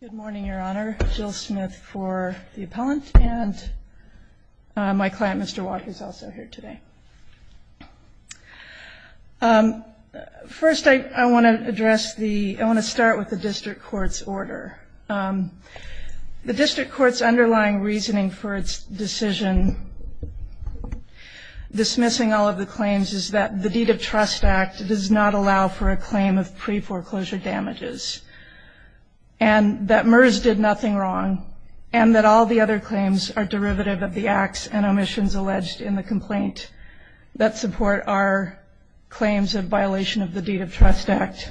Good morning, Your Honor. Jill Smith for the appellant and my client, Mr. Watt, who's also here today. First, I want to address the, I want to start with the district court's order. The district court's underlying reasoning for its decision dismissing all of the claims is that the deed of trust act does not allow for a claim of pre-foreclosure damages. And that Myers did nothing wrong and that all the other claims are derivative of the acts and omissions alleged in the complaint that support our claims of violation of the deed of trust act.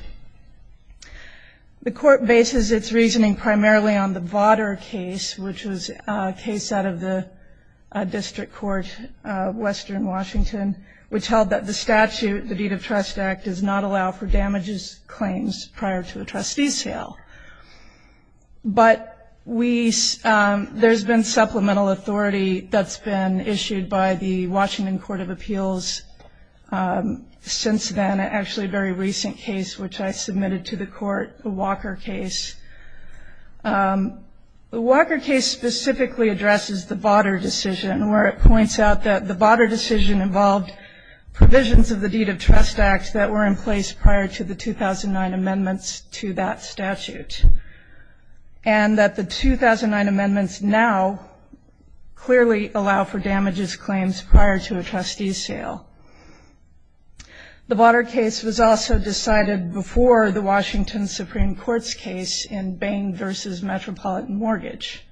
The court bases its reasoning primarily on the Votter case, which was a case out of the district court of Western Washington, which held that the statute, the deed of trust act, does not allow for damages claims prior to a trustee's sale. But we, there's been supplemental authority that's been issued by the Washington Court of Appeals since then, actually a very recent case which I submitted to the court, the Walker case. The Walker case specifically addresses the Votter decision where it points out that the Votter decision involved provisions of the deed of trust act that were in place prior to the 2009 amendments to that statute. And that the 2009 amendments now clearly allow for damages claims prior to a trustee's sale. The Votter case was also decided before the Washington Supreme Court's case in Bain v. Metropolitan Mortgage.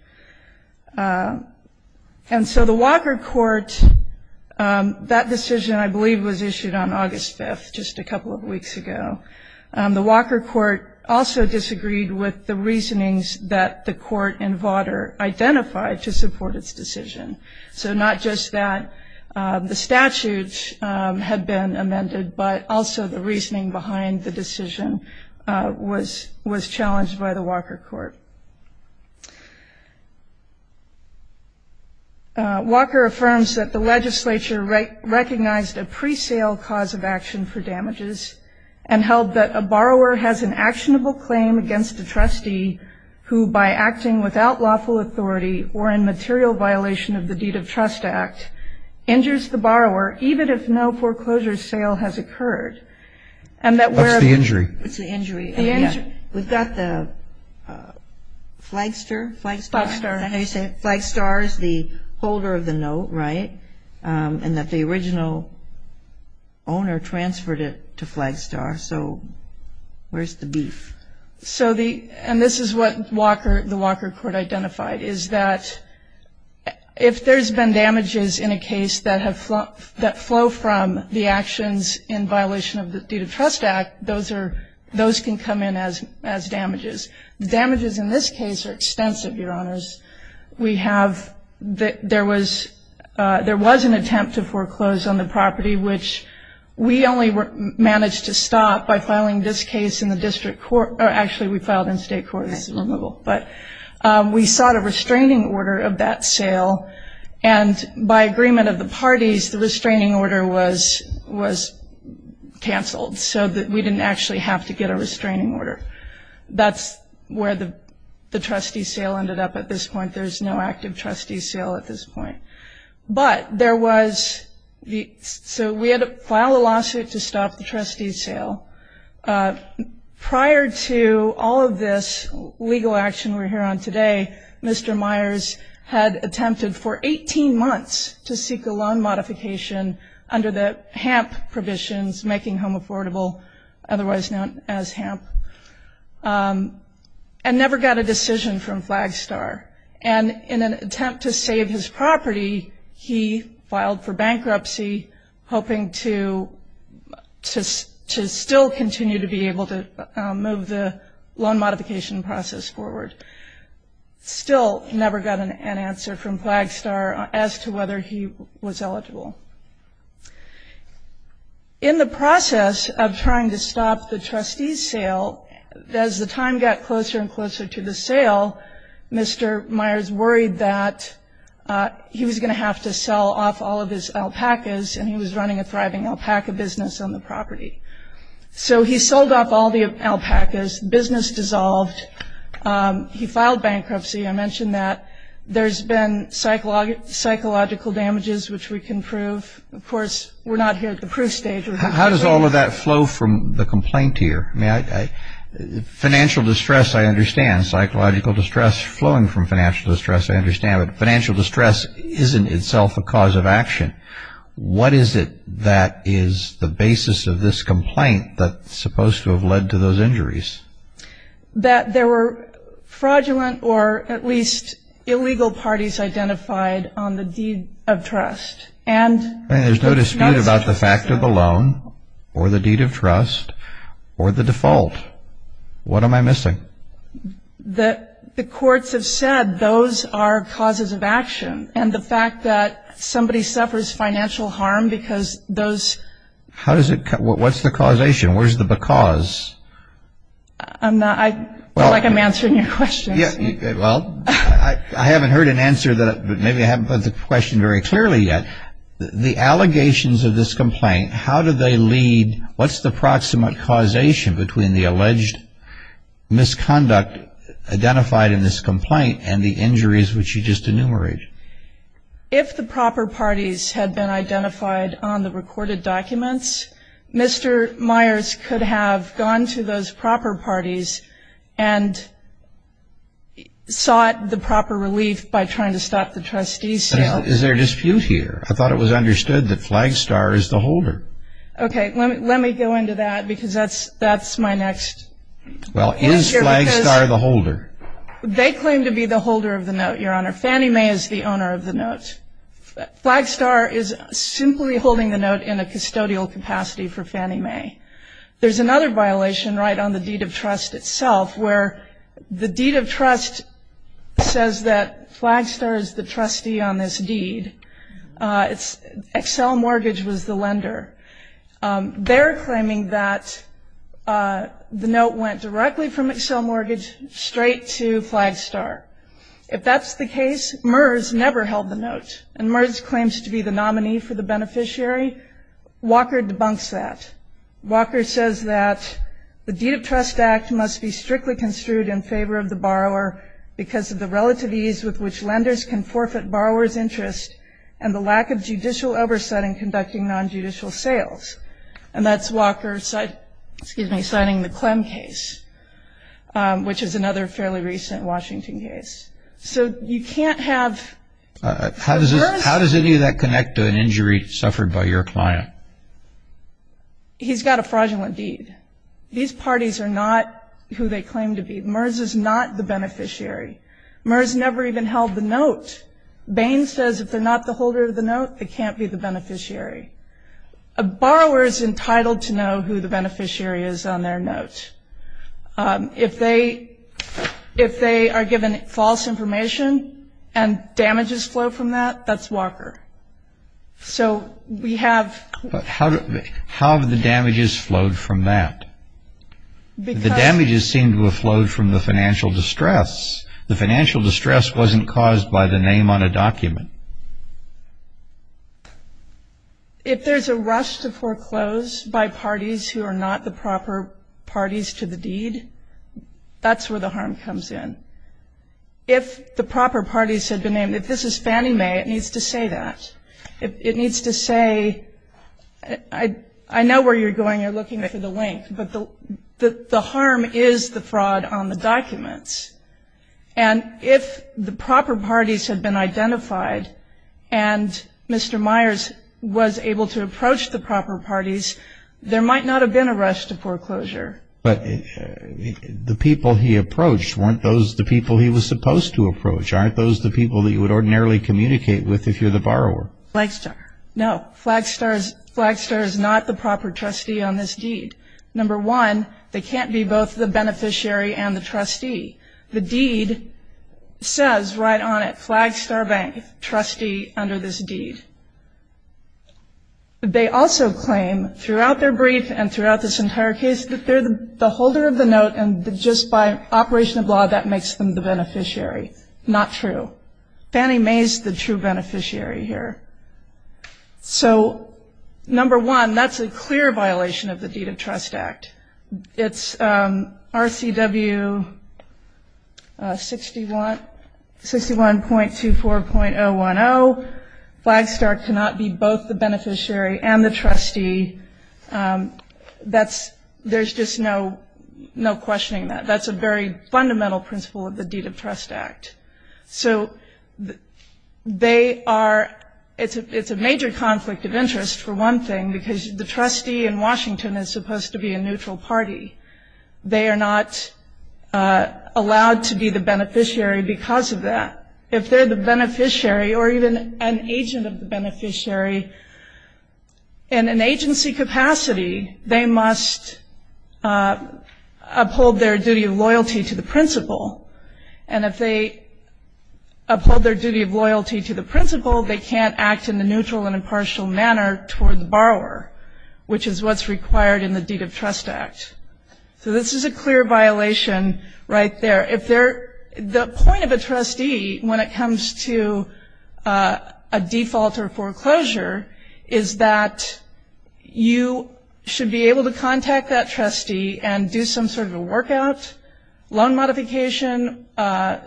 And so the Walker court, that decision I believe was issued on August 5th, just a couple of weeks ago. The Walker court also disagreed with the reasonings that the court in Votter identified to support its decision. So not just that the statutes had been amended, but also the reasoning behind the decision was challenged by the Walker court. Walker affirms that the legislature recognized a pre-sale cause of action for damages and held that a borrower has an actionable claim against a trustee who by acting without lawful authority or in material violation of the deed of trust act, injures the borrower even if no foreclosure sale has occurred. And that where. What's the injury? It's the injury. We've got the Flagstar. Flagstar. I hear you say it. Flagstar is the holder of the note, right? And that the original owner transferred it to Flagstar. So where's the beef? And this is what the Walker court identified, is that if there's been damages in a case that flow from the actions in violation of the deed of trust act, those can come in as damages. The damages in this case are extensive, Your Honors. There was an attempt to foreclose on the property, which we only managed to stop by filing this case in the district court. Actually, we filed in state court. But we sought a restraining order of that sale. And by agreement of the parties, the restraining order was canceled so that we didn't actually have to get a restraining order. That's where the trustee sale ended up at this point. There's no active trustee sale at this point. So we had to file a lawsuit to stop the trustee sale. Prior to all of this legal action we're here on today, Mr. Myers had attempted for 18 months to seek a loan modification under the HAMP provisions, making home affordable, otherwise known as HAMP, and never got a decision from Flagstar. And in an attempt to save his property, he filed for bankruptcy, hoping to still continue to be able to move the loan modification process forward. Still never got an answer from Flagstar as to whether he was eligible. In the process of trying to stop the trustee sale, as the time got closer and closer to the sale, Mr. Myers worried that he was going to have to sell off all of his alpacas and he was running a thriving alpaca business on the property. So he sold off all the alpacas, business dissolved. He filed bankruptcy. I mentioned that there's been psychological damages which we can prove. Of course, we're not here at the proof stage. How does all of that flow from the complaint here? Financial distress, I understand. Psychological distress flowing from financial distress, I understand. But financial distress isn't itself a cause of action. What is it that is the basis of this complaint that's supposed to have led to those injuries? That there were fraudulent or at least illegal parties identified on the deed of trust. There's no dispute about the fact of the loan or the deed of trust or the default. What am I missing? The courts have said those are causes of action. And the fact that somebody suffers financial harm because those – What's the causation? Where's the because? I feel like I'm answering your question. Well, I haven't heard an answer, but maybe I haven't put the question very clearly yet. The allegations of this complaint, how do they lead – what's the proximate causation between the alleged misconduct identified in this complaint and the injuries which you just enumerated? If the proper parties had been identified on the recorded documents, Mr. Myers could have gone to those proper parties and sought the proper relief by trying to stop the trustee sale. Is there a dispute here? I thought it was understood that Flagstar is the holder. Okay, let me go into that because that's my next answer. Well, is Flagstar the holder? They claim to be the holder of the note, Your Honor. Fannie Mae is the owner of the note. Flagstar is simply holding the note in a custodial capacity for Fannie Mae. There's another violation right on the deed of trust itself where the deed of trust says that Flagstar is the trustee on this deed. Excel Mortgage was the lender. They're claiming that the note went directly from Excel Mortgage straight to Flagstar. If that's the case, MERS never held the note, and MERS claims to be the nominee for the beneficiary. Walker debunks that. Walker says that the deed of trust act must be strictly construed in favor of the borrower because of the relative ease with which lenders can forfeit borrowers' interest and the lack of judicial oversight in conducting nonjudicial sales. And that's Walker signing the Clem case, which is another fairly recent Washington case. So you can't have MERS. How does any of that connect to an injury suffered by your client? He's got a fraudulent deed. These parties are not who they claim to be. MERS is not the beneficiary. MERS never even held the note. Bain says if they're not the holder of the note, they can't be the beneficiary. A borrower is entitled to know who the beneficiary is on their note. If they are given false information and damages flow from that, that's Walker. So we have – How have the damages flowed from that? The damages seem to have flowed from the financial distress. The financial distress wasn't caused by the name on a document. If there's a rush to foreclose by parties who are not the proper parties to the deed, that's where the harm comes in. If the proper parties had been named, if this is Fannie Mae, it needs to say that. It needs to say, I know where you're going, you're looking for the link, but the harm is the fraud on the documents. And if the proper parties had been identified and Mr. Myers was able to approach the proper parties, there might not have been a rush to foreclosure. But the people he approached weren't the people he was supposed to approach. Aren't those the people that you would ordinarily communicate with if you're the borrower? Flagstar. No, Flagstar is not the proper trustee on this deed. Number one, they can't be both the beneficiary and the trustee. The deed says right on it, Flagstar Bank, trustee under this deed. They also claim throughout their brief and throughout this entire case that they're the holder of the note, and just by operation of law that makes them the beneficiary. Not true. Fannie Mae's the true beneficiary here. So number one, that's a clear violation of the Deed of Trust Act. It's RCW 61.24.010. Flagstar cannot be both the beneficiary and the trustee. There's just no questioning that. That's a very fundamental principle of the Deed of Trust Act. So it's a major conflict of interest, for one thing, because the trustee in Washington is supposed to be a neutral party. They are not allowed to be the beneficiary because of that. If they're the beneficiary or even an agent of the beneficiary in an agency capacity, they must uphold their duty of loyalty to the principle. And if they uphold their duty of loyalty to the principle, they can't act in a neutral and impartial manner toward the borrower, which is what's required in the Deed of Trust Act. So this is a clear violation right there. The point of a trustee when it comes to a default or foreclosure is that you should be able to contact that trustee and do some sort of a workout, loan modification, paying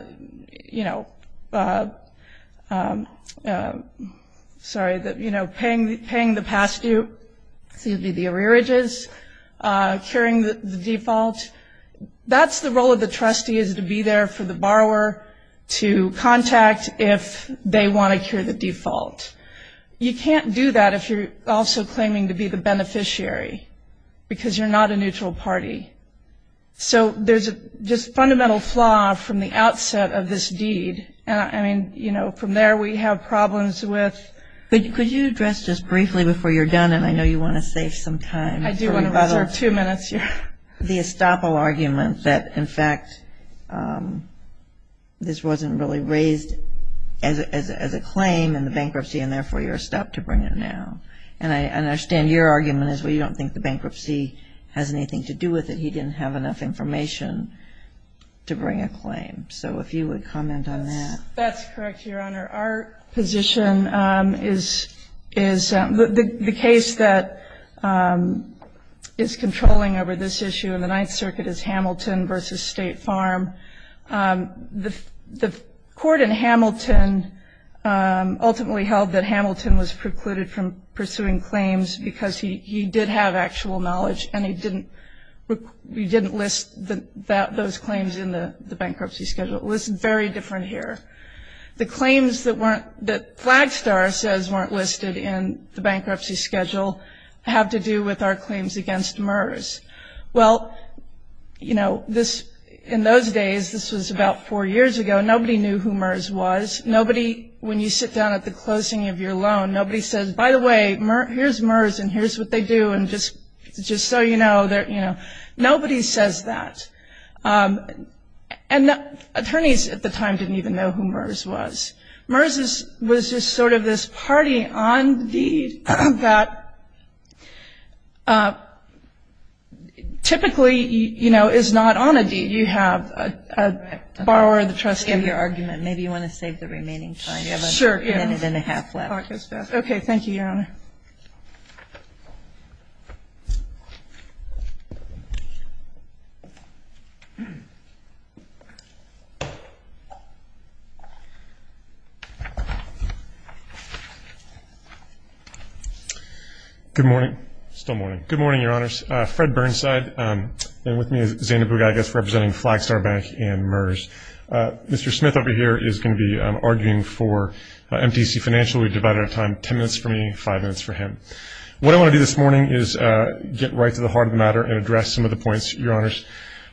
the past due, the arrearages, curing the default. That's the role of the trustee is to be there for the borrower to contact if they want to cure the default. You can't do that if you're also claiming to be the beneficiary because you're not a neutral party. So there's just a fundamental flaw from the outset of this deed. I mean, you know, from there we have problems with ‑‑ Could you address just briefly before you're done, and I know you want to save some time. I do want to reserve two minutes here. The estoppel argument that, in fact, this wasn't really raised as a claim in the bankruptcy and therefore you're stopped to bring it now. And I understand your argument is, well, you don't think the bankruptcy has anything to do with it. He didn't have enough information to bring a claim. So if you would comment on that. That's correct, Your Honor. Our position is the case that is controlling over this issue in the Ninth Circuit is Hamilton v. State Farm. The court in Hamilton ultimately held that Hamilton was precluded from pursuing claims because he did have actual knowledge and he didn't list those claims in the bankruptcy schedule. It was very different here. The claims that Flagstar says weren't listed in the bankruptcy schedule have to do with our claims against MERS. Well, you know, in those days, this was about four years ago, nobody knew who MERS was. Nobody, when you sit down at the closing of your loan, nobody says, by the way, here's MERS and here's what they do and just so you know. Nobody says that. And attorneys at the time didn't even know who MERS was. MERS was just sort of this party on deed that typically, you know, is not on a deed. You have a borrower, the trustee. I understand your argument. Maybe you want to save the remaining time. You have a minute and a half left. Okay. Thank you, Your Honor. Okay. Good morning. Still morning. Good morning, Your Honors. Fred Burnside. And with me is Xander Bugagas representing Flagstar Bank and MERS. Mr. Smith over here is going to be arguing for MTC Financial. So we've divided our time. Ten minutes for me, five minutes for him. What I want to do this morning is get right to the heart of the matter and address some of the points Your Honors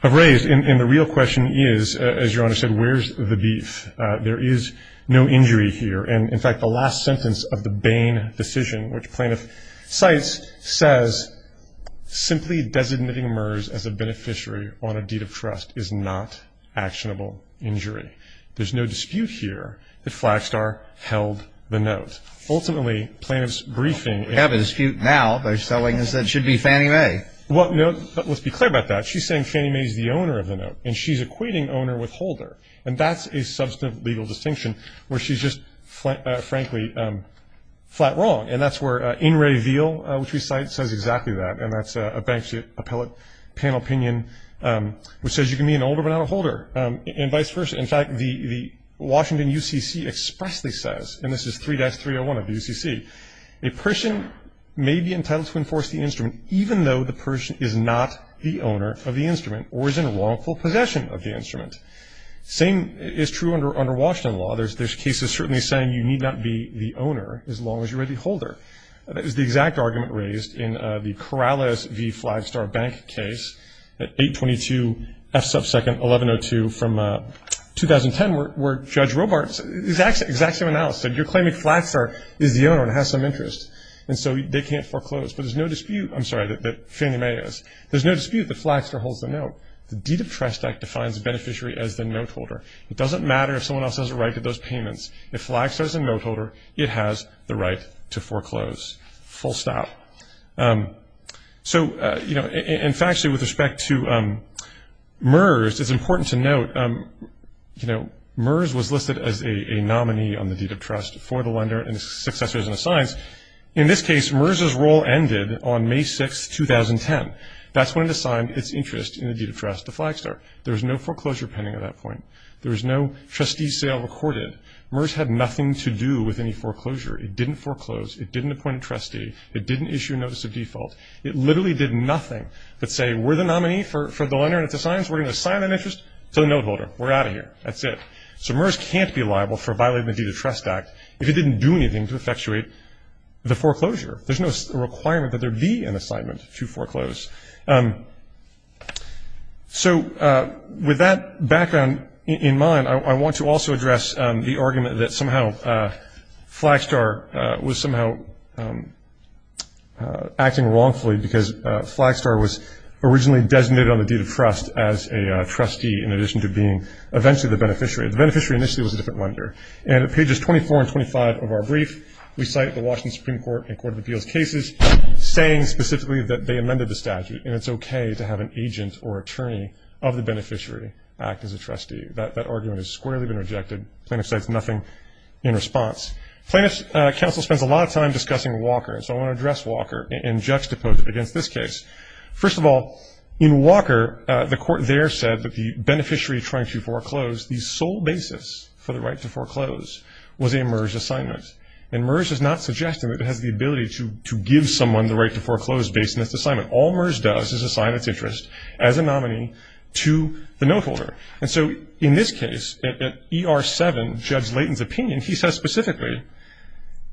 have raised. And the real question is, as Your Honor said, where's the beef? There is no injury here. And, in fact, the last sentence of the Bain decision, which plaintiff cites, says simply designating MERS as a beneficiary on a deed of trust is not actionable injury. There's no dispute here that Flagstar held the note. Ultimately, plaintiff's briefing. We have a dispute now. They're selling us that it should be Fannie Mae. Well, no, but let's be clear about that. She's saying Fannie Mae is the owner of the note, and she's equating owner with holder. And that's a substantive legal distinction where she's just, frankly, flat wrong. And that's where In Re Veal, which we cite, says exactly that, and that's a bank's appellate panel opinion which says you can be an owner but not a holder, and vice versa. In fact, the Washington UCC expressly says, and this is 3-301 of the UCC, a person may be entitled to enforce the instrument even though the person is not the owner of the instrument or is in wrongful possession of the instrument. Same is true under Washington law. There's cases certainly saying you need not be the owner as long as you are the holder. That is the exact argument raised in the Corrales v. Flagstar Bank case, 822 F-1102 from 2010, where Judge Robart's exact same analysis. You're claiming Flagstar is the owner and has some interest, and so they can't foreclose. But there's no dispute that Fannie Mae is. There's no dispute that Flagstar holds the note. The deed of trust act defines the beneficiary as the note holder. It doesn't matter if someone else has a right to those payments. If Flagstar is a note holder, it has the right to foreclose. Full stop. So, you know, in fact, with respect to MERS, it's important to note, you know, MERS was listed as a nominee on the deed of trust for the lender and its successors and assigns. In this case, MERS's role ended on May 6, 2010. That's when it assigned its interest in the deed of trust to Flagstar. There was no foreclosure pending at that point. There was no trustee sale recorded. MERS had nothing to do with any foreclosure. It didn't foreclose. It didn't appoint a trustee. It didn't issue a notice of default. It literally did nothing but say, we're the nominee for the lender, and it's assigned, so we're going to assign that interest to the note holder. We're out of here. That's it. So MERS can't be liable for violating the deed of trust act if it didn't do anything to effectuate the foreclosure. There's no requirement that there be an assignment to foreclose. So with that background in mind, I want to also address the argument that somehow Flagstar was somehow acting wrongfully because Flagstar was originally designated on the deed of trust as a trustee, in addition to being eventually the beneficiary. The beneficiary initially was a different lender. And at pages 24 and 25 of our brief, we cite the Washington Supreme Court and court of appeals cases saying specifically that they amended the statute, and it's okay to have an agent or attorney of the beneficiary act as a trustee. That argument has squarely been rejected. Plaintiff cites nothing in response. Plaintiff's counsel spends a lot of time discussing Walker, and so I want to address Walker and juxtapose it against this case. First of all, in Walker, the court there said that the beneficiary trying to foreclose, the sole basis for the right to foreclose was a MERS assignment. And MERS is not suggesting that it has the ability to give someone the right to foreclose based on this assignment. All MERS does is assign its interest as a nominee to the note holder. And so in this case, in ER 7, Judge Layton's opinion, he says specifically,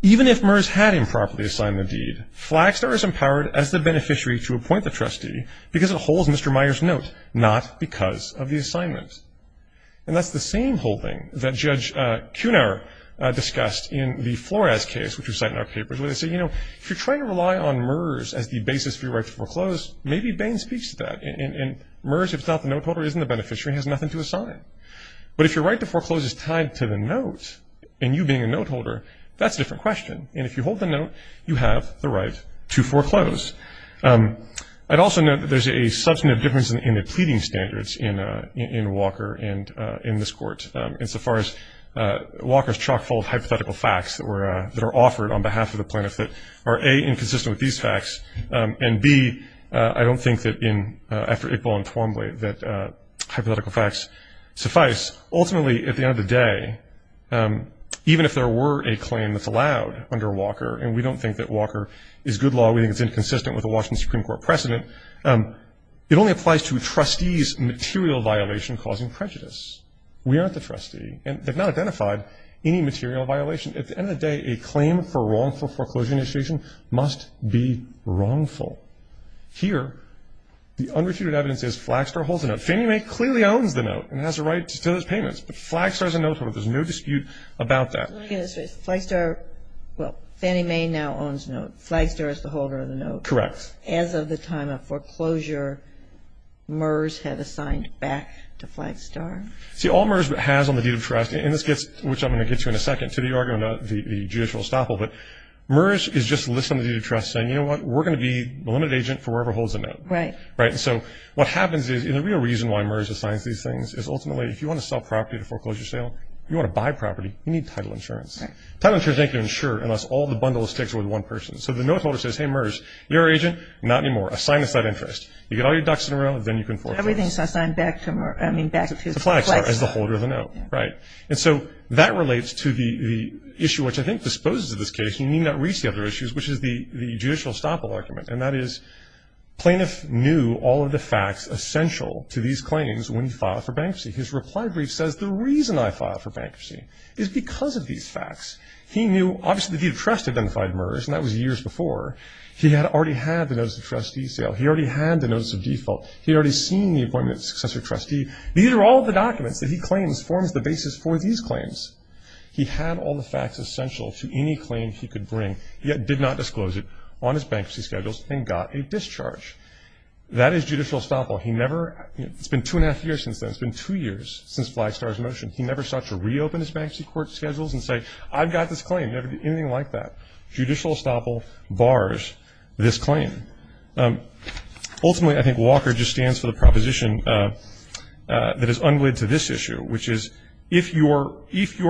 even if MERS had improperly assigned the deed, Flagstar is empowered as the beneficiary to appoint the trustee because it holds Mr. Meyer's note, not because of the assignment. And that's the same holding that Judge Kuhnhauer discussed in the Flores case, which we cite in our papers, where they say, you know, if you're trying to rely on MERS as the basis for your right to foreclose, maybe Bain speaks to that. And MERS, if it's not the note holder, isn't the beneficiary and has nothing to assign. But if your right to foreclose is tied to the note, and you being a note holder, that's a different question. And if you hold the note, you have the right to foreclose. I'd also note that there's a substantive difference in the pleading standards in Walker and in this court. And so far as Walker's chock-full of hypothetical facts that are offered on behalf of the plaintiffs that are, A, inconsistent with these facts, and, B, I don't think that in, after Iqbal and Twombly, that hypothetical facts suffice. Ultimately, at the end of the day, even if there were a claim that's allowed under Walker, and we don't think that Walker is good law, we think it's inconsistent with the Washington Supreme Court precedent, it only applies to a trustee's material violation causing prejudice. We aren't the trustee. And they've not identified any material violation. At the end of the day, a claim for wrongful foreclosure initiation must be wrongful. Here, the unrefuted evidence is Flagstar holds the note. Fannie Mae clearly owns the note and has a right to those payments. But Flagstar is a note holder. There's no dispute about that. Flagstar, well, Fannie Mae now owns the note. Flagstar is the holder of the note. Correct. As of the time of foreclosure, MERS has assigned back to Flagstar. See, all MERS has on the deed of trust, and this gets, which I'm going to get to in a second, to the argument about the judicial estoppel, but MERS is just listed on the deed of trust saying, you know what, we're going to be the limited agent for whoever holds the note. Right. Right, and so what happens is, and the real reason why MERS assigns these things is ultimately, if you want to sell property at a foreclosure sale, if you want to buy property, you need title insurance. Right. Title insurance doesn't make you an insurer unless all the bundle of stakes are with one person. So the note holder says, hey, MERS, you're our agent? Not anymore. Assign us that interest. You get all your ducks in a row, then you can foreclose. Everything is assigned back to MERS, I mean back to Flagstar. To Flagstar as the holder of the note. Right. And so that relates to the issue which I think disposes of this case, and you need not reach the other issues, which is the judicial estoppel argument, and that is plaintiff knew all of the facts essential to these claims when he filed for bankruptcy. His reply brief says the reason I filed for bankruptcy is because of these facts. He knew, obviously, the deed of trust identified MERS, and that was years before. He had already had the notice of trustee sale. He already had the notice of default. He had already seen the appointment of successor trustee. These are all the documents that he claims forms the basis for these claims. He had all the facts essential to any claim he could bring, yet did not disclose it on his bankruptcy schedules and got a discharge. That is judicial estoppel. He never, you know, it's been two and a half years since then. It's been two years since Flagstar's motion. He never sought to reopen his bankruptcy court schedules and say, I've got this claim. Never did anything like that. Judicial estoppel bars this claim. Ultimately, I think Walker just stands for the proposition that is unlead to this issue, which is if your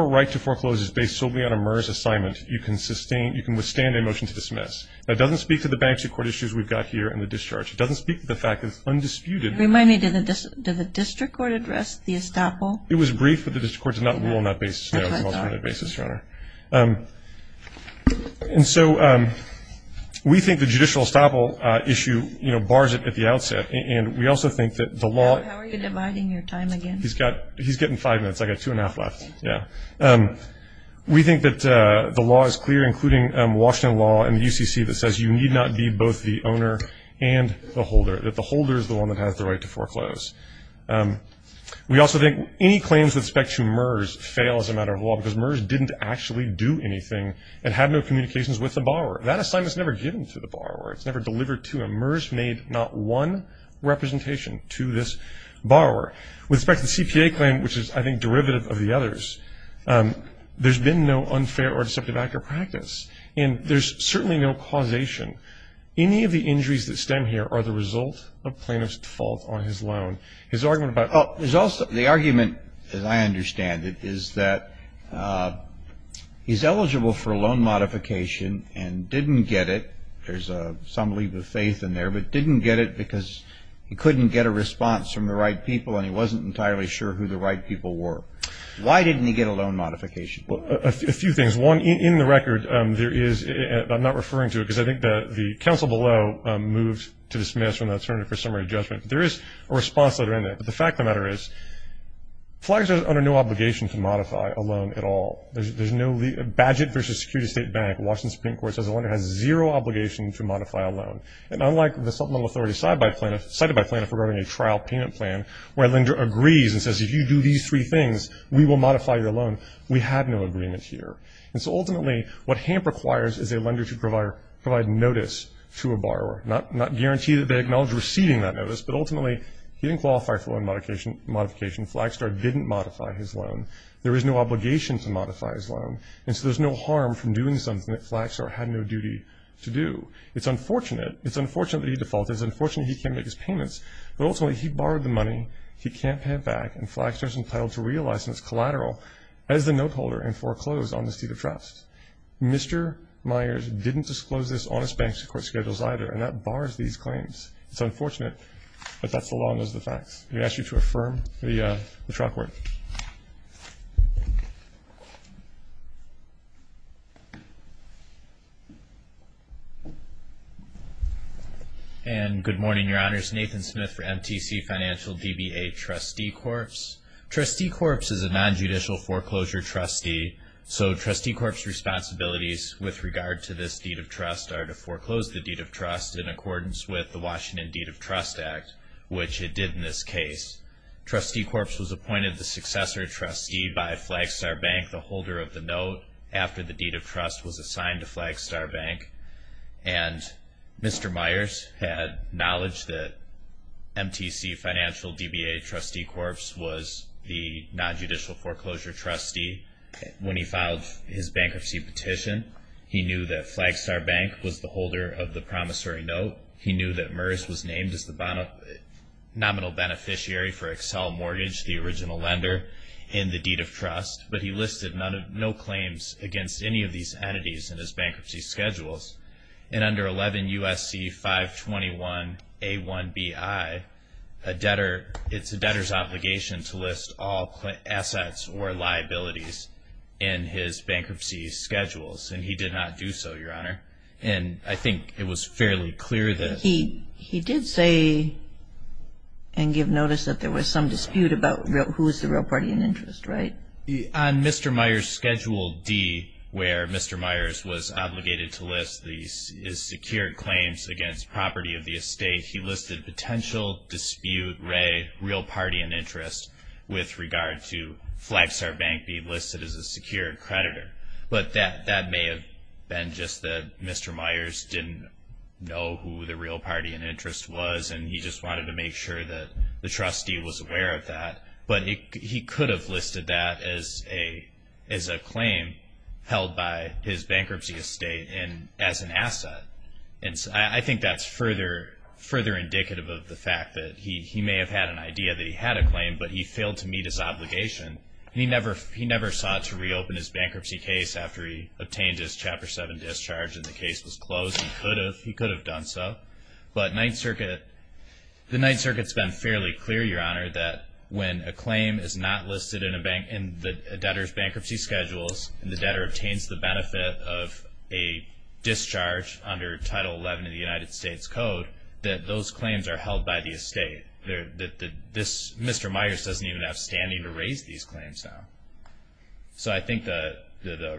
right to foreclose is based solely on a MERS assignment, you can withstand a motion to dismiss. That doesn't speak to the bankruptcy court issues we've got here and the discharge. It doesn't speak to the fact that it's undisputed. Remind me, did the district court address the estoppel? It was brief, but the district court did not rule on that basis, Your Honor. And so we think the judicial estoppel issue, you know, bars it at the outset. And we also think that the law. How are you dividing your time again? He's getting five minutes. I've got two and a half left. Yeah. We think that the law is clear, including Washington law and the UCC, that says you need not be both the owner and the holder, that the holder is the one that has the right to foreclose. We also think any claims with respect to MERS fail as a matter of law because MERS didn't actually do anything and had no communications with the borrower. That assignment is never given to the borrower. It's never delivered to them. MERS made not one representation to this borrower. With respect to the CPA claim, which is, I think, derivative of the others, there's been no unfair or deceptive active practice, and there's certainly no causation. Any of the injuries that stem here are the result of plaintiff's default on his loan. The argument, as I understand it, is that he's eligible for a loan modification and didn't get it. There's some leap of faith in there, but didn't get it because he couldn't get a response from the right people and he wasn't entirely sure who the right people were. Why didn't he get a loan modification? A few things. One, in the record, there is – I'm not referring to it because I think the counsel below moved to dismiss from the attorney for summary judgment. There is a response letter in there, but the fact of the matter is, flag says under no obligation to modify a loan at all. There's no – Badgett v. Security State Bank, Washington Supreme Court, says a lender has zero obligation to modify a loan. And unlike the supplemental authority cited by plaintiff regarding a trial payment plan where a lender agrees and says, if you do these three things, we will modify your loan, we have no agreement here. And so ultimately what HAMP requires is a lender to provide notice to a borrower, not guarantee that they acknowledge receiving that notice, but ultimately he didn't qualify for a loan modification. Flagstar didn't modify his loan. There is no obligation to modify his loan, and so there's no harm from doing something that Flagstar had no duty to do. It's unfortunate. It's unfortunate that he defaulted. It's unfortunate he can't make his payments. But ultimately he borrowed the money, he can't pay it back, and Flagstar is entitled to real license collateral as the note holder and foreclosed on the seat of trust. Mr. Myers didn't disclose this on his bank's court schedules either, and that bars these claims. It's unfortunate, but that's the law and those are the facts. We ask you to affirm the chalkboard. Thank you. Good morning, Your Honors. Nathan Smith for MTC Financial, DBA Trustee Corps. Trustee Corps is a nonjudicial foreclosure trustee, so Trustee Corps' responsibilities with regard to this deed of trust are to foreclose the deed of trust in accordance with the Washington Deed of Trust Act, which it did in this case. Trustee Corps was appointed the successor trustee by Flagstar Bank, the holder of the note, after the deed of trust was assigned to Flagstar Bank. And Mr. Myers had knowledge that MTC Financial, DBA Trustee Corps was the nonjudicial foreclosure trustee. When he filed his bankruptcy petition, he knew that Flagstar Bank was the holder of the promissory note. He knew that Merz was named as the nominal beneficiary for Excel Mortgage, the original lender in the deed of trust, but he listed no claims against any of these entities in his bankruptcy schedules. And under 11 U.S.C. 521A1BI, it's a debtor's obligation to list all assets or liabilities in his bankruptcy schedules, and he did not do so, Your Honor. And I think it was fairly clear that he He did say and give notice that there was some dispute about who was the real party in interest, right? On Mr. Myers' Schedule D, where Mr. Myers was obligated to list his secure claims against property of the estate, he listed potential dispute, real party in interest, with regard to Flagstar Bank being listed as a secure creditor. But that may have been just that Mr. Myers didn't know who the real party in interest was, and he just wanted to make sure that the trustee was aware of that. But he could have listed that as a claim held by his bankruptcy estate as an asset. And I think that's further indicative of the fact that he may have had an idea that he had a claim, but he failed to meet his obligation. And he never sought to reopen his bankruptcy case after he obtained his Chapter 7 discharge and the case was closed. He could have done so. But the Ninth Circuit has been fairly clear, Your Honor, that when a claim is not listed in a debtor's bankruptcy schedules and the debtor obtains the benefit of a discharge under Title 11 of the United States Code, that those claims are held by the estate. Mr. Myers doesn't even have standing to raise these claims now. So I think the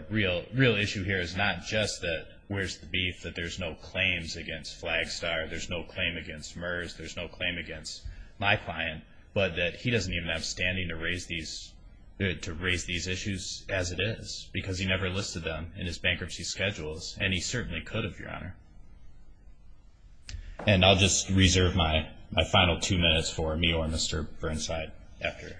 real issue here is not just that where's the beef, that there's no claims against Flagstar, there's no claim against MERS, there's no claim against my client, but that he doesn't even have standing to raise these issues as it is because he never listed them in his bankruptcy schedules. And he certainly could have, Your Honor. And I'll just reserve my final two minutes for me or Mr. Burnside after.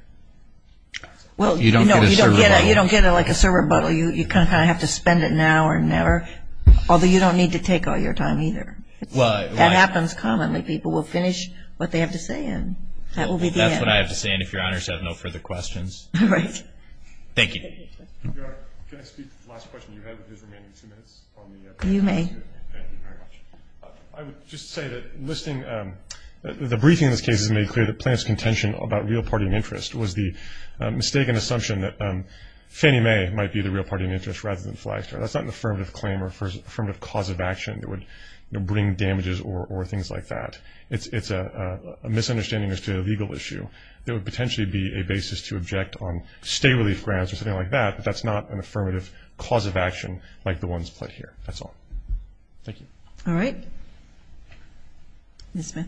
Well, you know, you don't get it like a syrup bottle. You kind of have to spend it now or never. Although you don't need to take all your time either. That happens commonly. People will finish what they have to say and that will be the end. That's what I have to say. And if Your Honors have no further questions. All right. Thank you. Your Honor, can I speak to the last question you had with his remaining two minutes on the evidence? You may. Thank you very much. I would just say that the briefing in this case has made clear that Plante's contention about real party and interest was the mistaken assumption that Fannie Mae might be the real party and interest rather than Flagstar. That's not an affirmative claim or affirmative cause of action that would bring damages or things like that. It's a misunderstanding as to a legal issue that would potentially be a basis to object on state relief grants or something like that, but that's not an affirmative cause of action like the ones put here. That's all. Thank you. All right. Ms. Smith.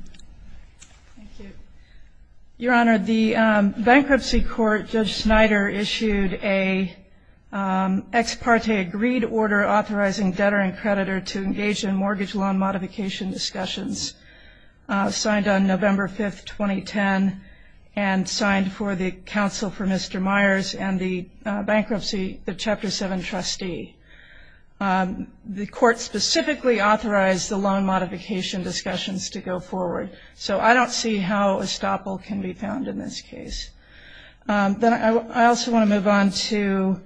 Thank you. Your Honor, the bankruptcy court, Judge Snyder, issued a ex parte agreed order authorizing debtor and creditor to engage in mortgage loan modification discussions. Signed on November 5th, 2010, and signed for the counsel for Mr. Myers and the bankruptcy, the Chapter 7 trustee. The court specifically authorized the loan modification discussions to go forward, so I don't see how estoppel can be found in this case. Then I also want to move on to,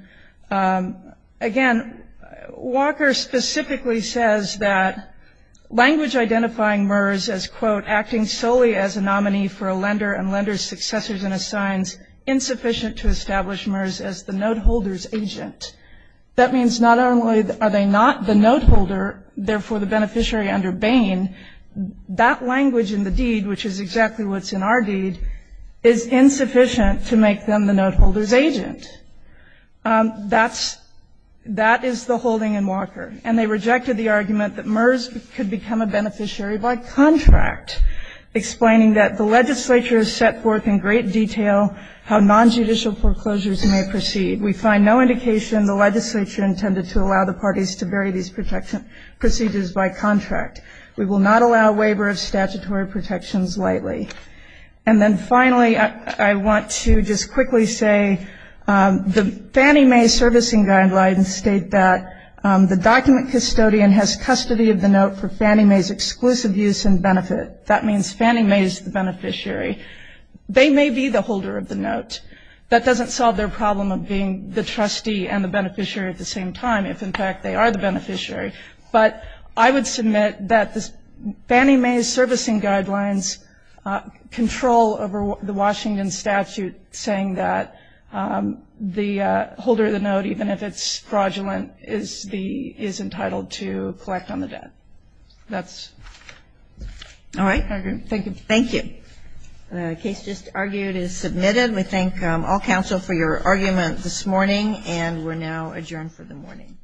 again, Walker specifically says that language identifying Myers as, quote, acting solely as a nominee for a lender and lender's successors and assigns insufficient to establish Myers as the note holder's agent. That means not only are they not the note holder, therefore the beneficiary under Bain, that language in the deed, which is exactly what's in our deed, is insufficient to make them the note holder's agent. That is the holding in Walker. And they rejected the argument that Myers could become a beneficiary by contract, explaining that the legislature has set forth in great detail how nonjudicial foreclosures may proceed. We find no indication the legislature intended to allow the parties to bury these procedures by contract. We will not allow waiver of statutory protections lightly. And then finally, I want to just quickly say the Fannie Mae servicing guidelines state that the document custodian has custody of the note for Fannie Mae's exclusive use and benefit. That means Fannie Mae is the beneficiary. They may be the holder of the note. That doesn't solve their problem of being the trustee and the beneficiary at the same time, if in fact they are the beneficiary. But I would submit that Fannie Mae's servicing guidelines control over the Washington statute saying that the holder of the note, even if it's fraudulent, is entitled to collect on the debt. That's it. All right. Thank you. Thank you. The case just argued is submitted. We thank all counsel for your argument this morning, and we're now adjourned for the morning.